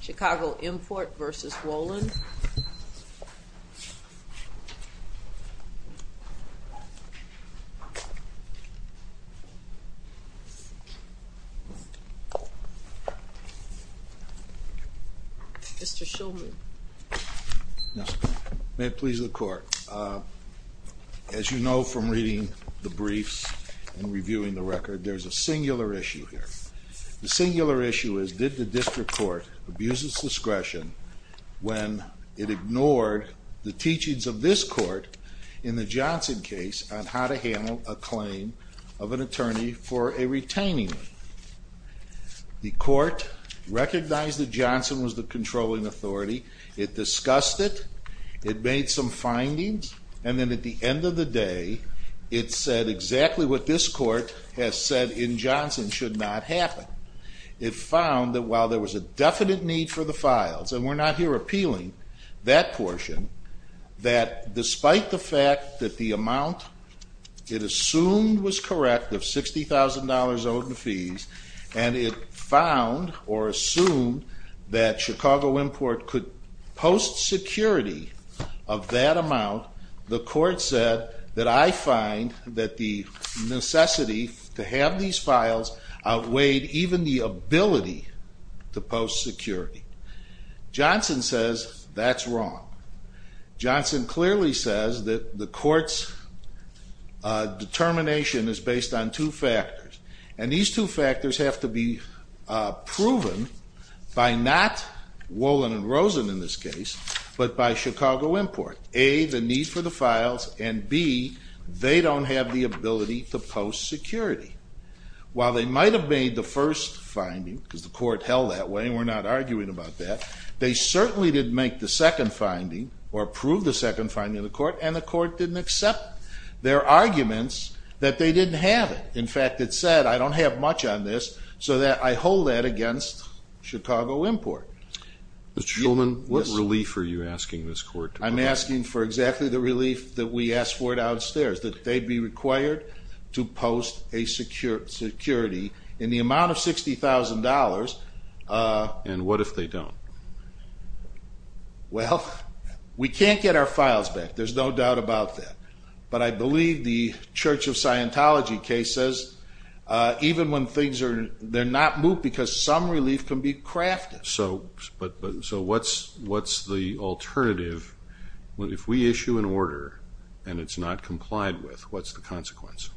Chicago Import v. Wolin & Rosen, Incorporated v. Wolin & Rosen, Ltd. Mr. Shulman. May it please the Court. As you know from reading the briefs and reviewing the record, there's a singular issue here. The singular issue is, did the District Court abuse its discretion when it ignored the teachings of this Court in the Johnson case on how to handle a claim of an attorney for a retaining? The Court recognized that Johnson was the controlling authority, it discussed it, it made some findings, and then at the end of the day, it said exactly what this Court has said in Johnson should not happen. It found that while there was a definite need for the files, and we're not here appealing that portion, that despite the fact that the amount it assumed was correct of $60,000 owed in fees, and it found or assumed that Chicago Import could post security of that amount, the Court said that I find that the necessity to have these files outweighed even the ability to post security. Johnson says that's wrong. Johnson clearly says that the Court's determination is based on two factors, and these two factors have to be proven by not Wolin & Rosen in this case, but by Chicago Import. A, the need for the files, and B, they don't have the ability to post security. While they might have made the first finding, because the Court held that way and we're not arguing about that, they certainly didn't make the second finding or prove the second finding of the Court, and the Court didn't accept their arguments that they didn't have it. In fact, it said, I don't have much on this, so I hold that against Chicago Import. Mr. Shulman, what relief are you asking this Court to provide? I'm asking for exactly the relief that we asked for downstairs, that they'd be required to post a security in the amount of $60,000. And what if they don't? Well, we can't get our files back, there's no doubt about that, but I believe the Church of Scientology case says even when things are, they're not moot because some relief can be crafted. So what's the alternative, if we issue an order and it's not complied with, what's the consequence?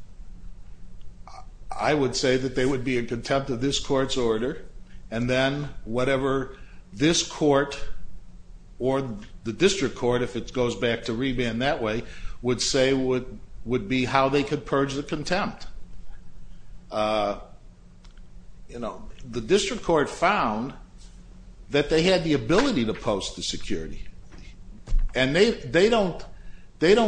I would say that there would be a contempt of this Court's order, and then whatever this Court or the District Court, if it goes back to reban that way, would say would be how they could purge the contempt. The District Court found that they had the ability to post the security, and they don't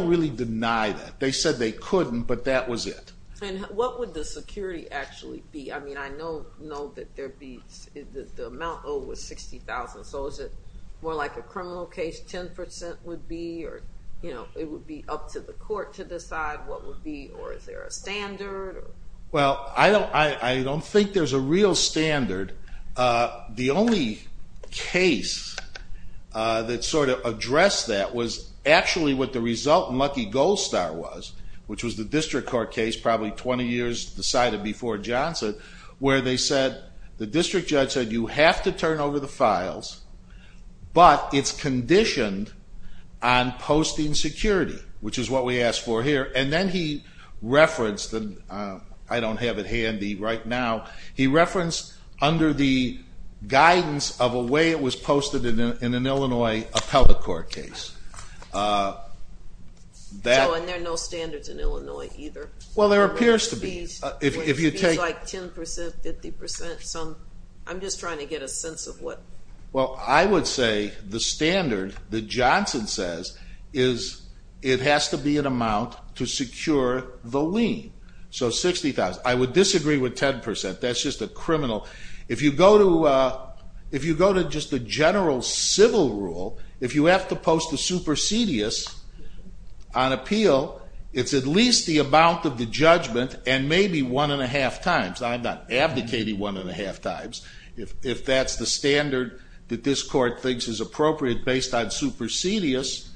really deny that. They said they couldn't, but that was it. And what would the security actually be? I know that the amount owed was $60,000, so is it more like a criminal case, 10% would be, or it would be up to the Court to decide what would be, or is there a standard? Well, I don't think there's a real standard. The only case that sort of addressed that was actually what the result in Lucky Gold Star was, which was the District Court case, probably 20 years decided before Johnson, where the District Judge said you have to turn over the files, but it's conditioned on posting security, which is what we asked for here. And then he referenced, and I don't have it handy right now, he referenced under the guidance of a way it was posted in an Illinois appellate court case. Oh, and there are no standards in Illinois either? Well, there appears to be. Would it be like 10%, 50%? I'm just trying to get a sense of what... Well, I would say the standard that Johnson says is it has to be an amount to secure the lien. So $60,000. I would disagree with 10%. That's just a criminal. If you go to just the general civil rule, if you have to post the supersedious on appeal, it's at least the amount of the judgment and maybe one and a half times. I'm not abdicating one and a half times. If that's the standard that this court thinks is appropriate based on supersedious,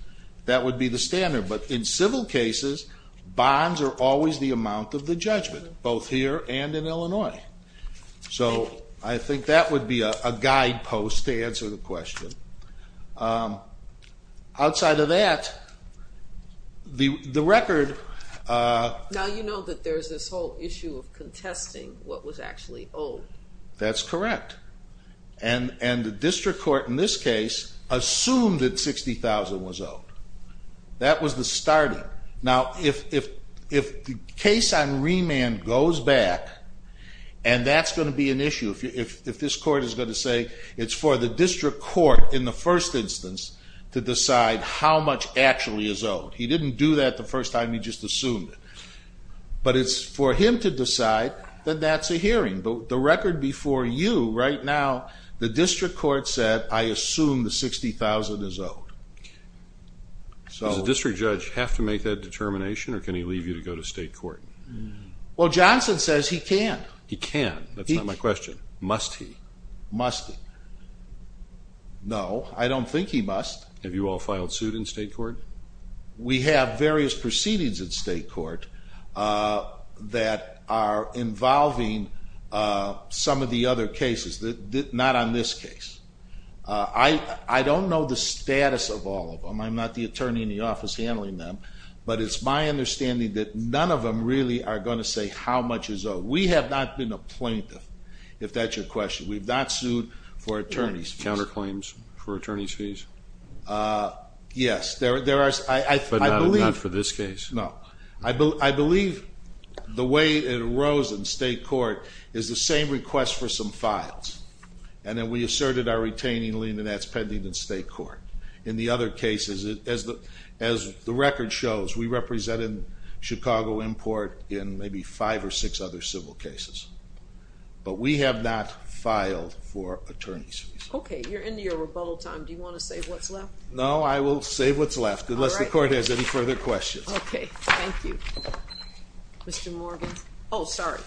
that would be the standard. But in civil cases, bonds are always the amount of the judgment, both here and in Illinois. So I think that would be a guidepost to answer the question. Outside of that, the record... Now, you know that there's this whole issue of contesting what was actually owed. That's correct. And the district court in this case assumed that $60,000 was owed. That was the starting. Now, if the case on remand goes back and that's going to be an issue, if this court is going to say it's for the district court in the first instance to decide how much actually is owed. He didn't do that the first time. He just assumed it. But it's for him to decide that that's a hearing. The record before you right now, the district court said, I assume the $60,000 is owed. Does the district judge have to make that determination or can he leave you to go to state court? Well, Johnson says he can. He can. That's not my question. Must he? Must he? No, I don't think he must. Have you all filed suit in state court? We have various proceedings in state court that are involving some of the other cases, not on this case. I don't know the status of all of them. I'm not the attorney in the office handling them. But it's my understanding that none of them really are going to say how much is owed. We have not been a plaintiff, if that's your question. We've not sued for attorney's fees. Do you have counterclaims for attorney's fees? Yes. But not for this case? No. I believe the way it arose in state court is the same request for some files. And then we asserted our retaining lien, and that's pending in state court. In the other cases, as the record shows, we represent in Chicago import in maybe five or six other civil cases. But we have not filed for attorney's fees. Okay. You're into your rebuttal time. Do you want to say what's left? No, I will say what's left, unless the court has any further questions. Okay. Thank you. Mr. Morgan. Oh, sorry.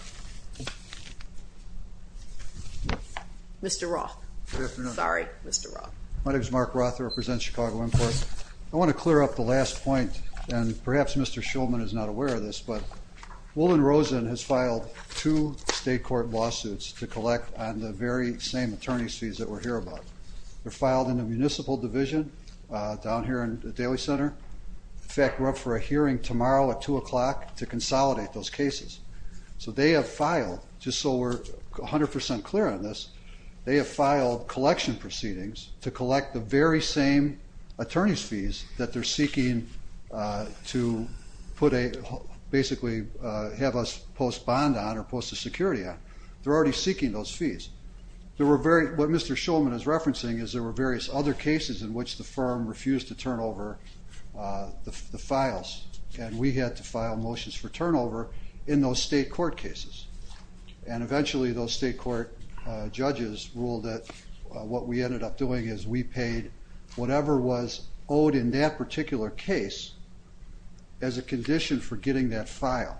Mr. Roth. Good afternoon. Sorry, Mr. Roth. My name is Mark Roth. I represent Chicago import. I want to clear up the last point, and perhaps Mr. Shulman is not aware of this, but Woolen Rosen has filed two state court lawsuits to collect on the very same attorney's fees that we're hearing about. They're filed in the municipal division down here in the Daly Center. In fact, we're up for a hearing tomorrow at 2 o'clock to consolidate those cases. So they have filed, just so we're 100% clear on this, they have filed collection proceedings to collect the very same attorney's fees that they're seeking to put a basically have us post bond on or post a security on. They're already seeking those fees. What Mr. Shulman is referencing is there were various other cases in which the firm refused to turn over the files, and we had to file motions for turnover in those state court cases. And eventually those state court judges ruled that what we ended up doing is we paid whatever was owed in that particular case as a condition for getting that file.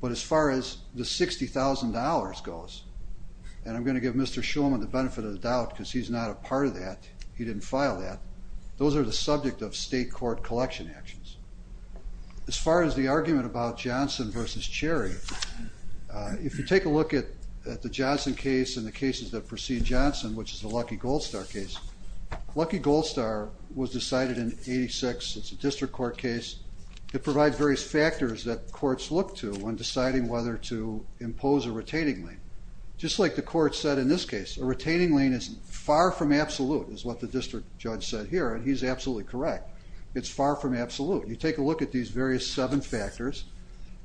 But as far as the $60,000 goes, and I'm going to give Mr. Shulman the benefit of the doubt because he's not a part of that. He didn't file that. Those are the subject of state court collection actions. As far as the argument about Johnson v. Cherry, if you take a look at the Johnson case and the cases that precede Johnson, which is the Lucky Gold Star case, Lucky Gold Star was decided in 86. It's a district court case. It provides various factors that courts look to when deciding whether to impose a retaining lien. Just like the court said in this case, a retaining lien is far from absolute is what the district judge said here, and he's absolutely correct. It's far from absolute. You take a look at these various seven factors,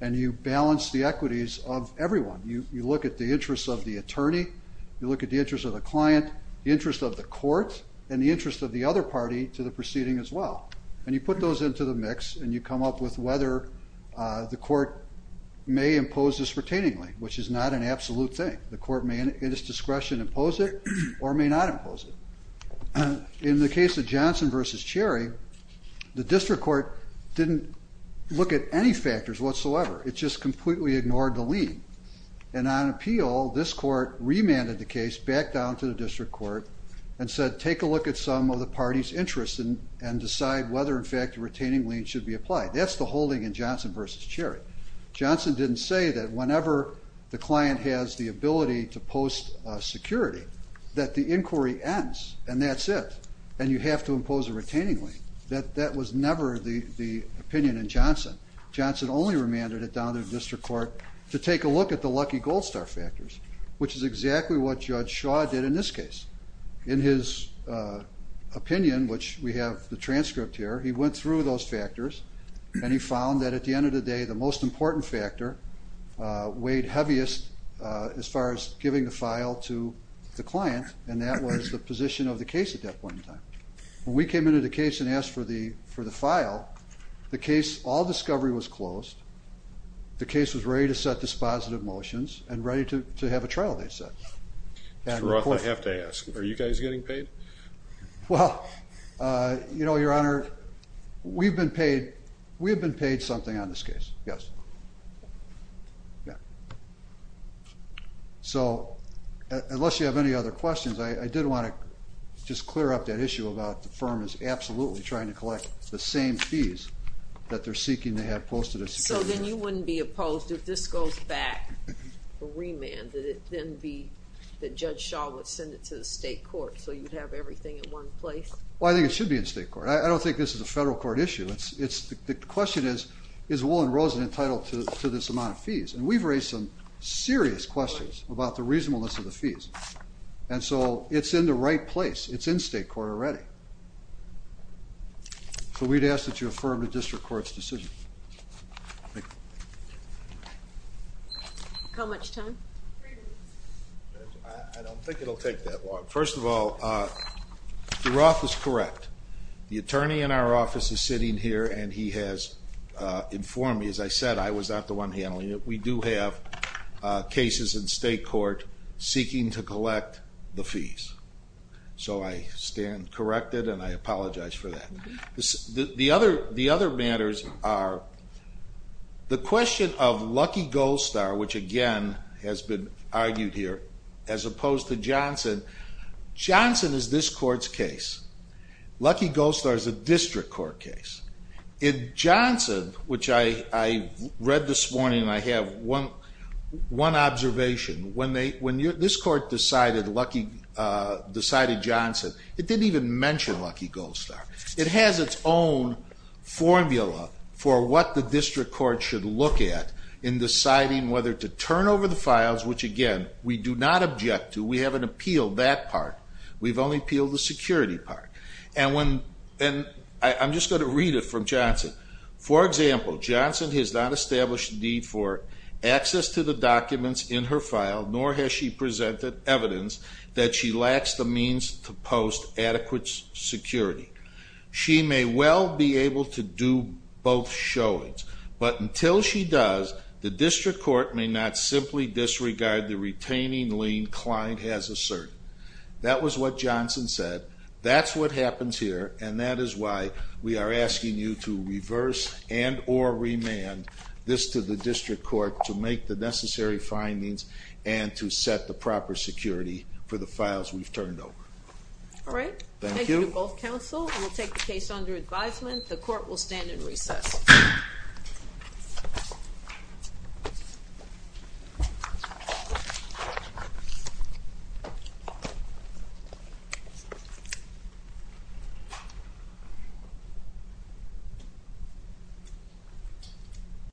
and you balance the equities of everyone. You look at the interests of the attorney, you look at the interests of the client, the interest of the court, and the interest of the other party to the proceeding as well. And you put those into the mix, and you come up with whether the court may impose this retaining lien, which is not an absolute thing. The court may, in its discretion, impose it or may not impose it. In the case of Johnson v. Cherry, the district court didn't look at any factors whatsoever. It just completely ignored the lien. And on appeal, this court remanded the case back down to the district court and said take a look at some of the party's interests and decide whether, in fact, a retaining lien should be applied. That's the holding in Johnson v. Cherry. Johnson didn't say that whenever the client has the ability to post security, that the inquiry ends and that's it, and you have to impose a retaining lien. That was never the opinion in Johnson. Johnson only remanded it down to the district court to take a look at the lucky gold star factors, which is exactly what Judge Shaw did in this case. In his opinion, which we have the transcript here, he went through those factors, and he found that at the end of the day, the most important factor weighed heaviest as far as giving the file to the client, and that was the position of the case at that point in time. When we came into the case and asked for the file, the case, all discovery was closed. The case was ready to set dispositive motions and ready to have a trial, they said. I have to ask, are you guys getting paid? Well, you know, Your Honor, we've been paid something on this case, yes. Yeah. So unless you have any other questions, I did want to just clear up that issue about the firm is absolutely trying to collect the same fees that they're seeking to have posted as security. So then you wouldn't be opposed if this goes back, remanded, it then be that Judge Shaw would send it to the state court so you'd have everything in one place? Well, I think it should be in state court. I don't think this is a federal court issue. The question is, is Woolen Rosen entitled to this amount of fees? And we've raised some serious questions about the reasonableness of the fees. And so it's in the right place. It's in state court already. So we'd ask that you affirm the district court's decision. Thank you. How much time? Three minutes. I don't think it'll take that long. First of all, you're office is correct. The attorney in our office is sitting here and he has informed me, as I said, I was not the one handling it. We do have cases in state court seeking to collect the fees. So I stand corrected and I apologize for that. The other matters are the question of Lucky Gold Star, which again has been argued here, as opposed to Johnson. Johnson is this court's case. Lucky Gold Star is a district court case. In Johnson, which I read this morning and I have one observation, when this court decided Johnson, it didn't even mention Lucky Gold Star. It has its own formula for what the district court should look at in deciding whether to turn over the files, which again we do not object to. We haven't appealed that part. We've only appealed the security part. And I'm just going to read it from Johnson. For example, Johnson has not established need for access to the documents in her file, nor has she presented evidence that she lacks the means to post adequate security. She may well be able to do both showings, but until she does, the district court may not simply disregard the retaining lien the client has asserted. That was what Johnson said. That's what happens here, and that is why we are asking you to reverse and or remand this to the district court to make the necessary findings and to set the proper security for the files we've turned over. All right. Thank you. Thank you to both counsel. We'll take the case under advisement. The court will stand in recess. Okay.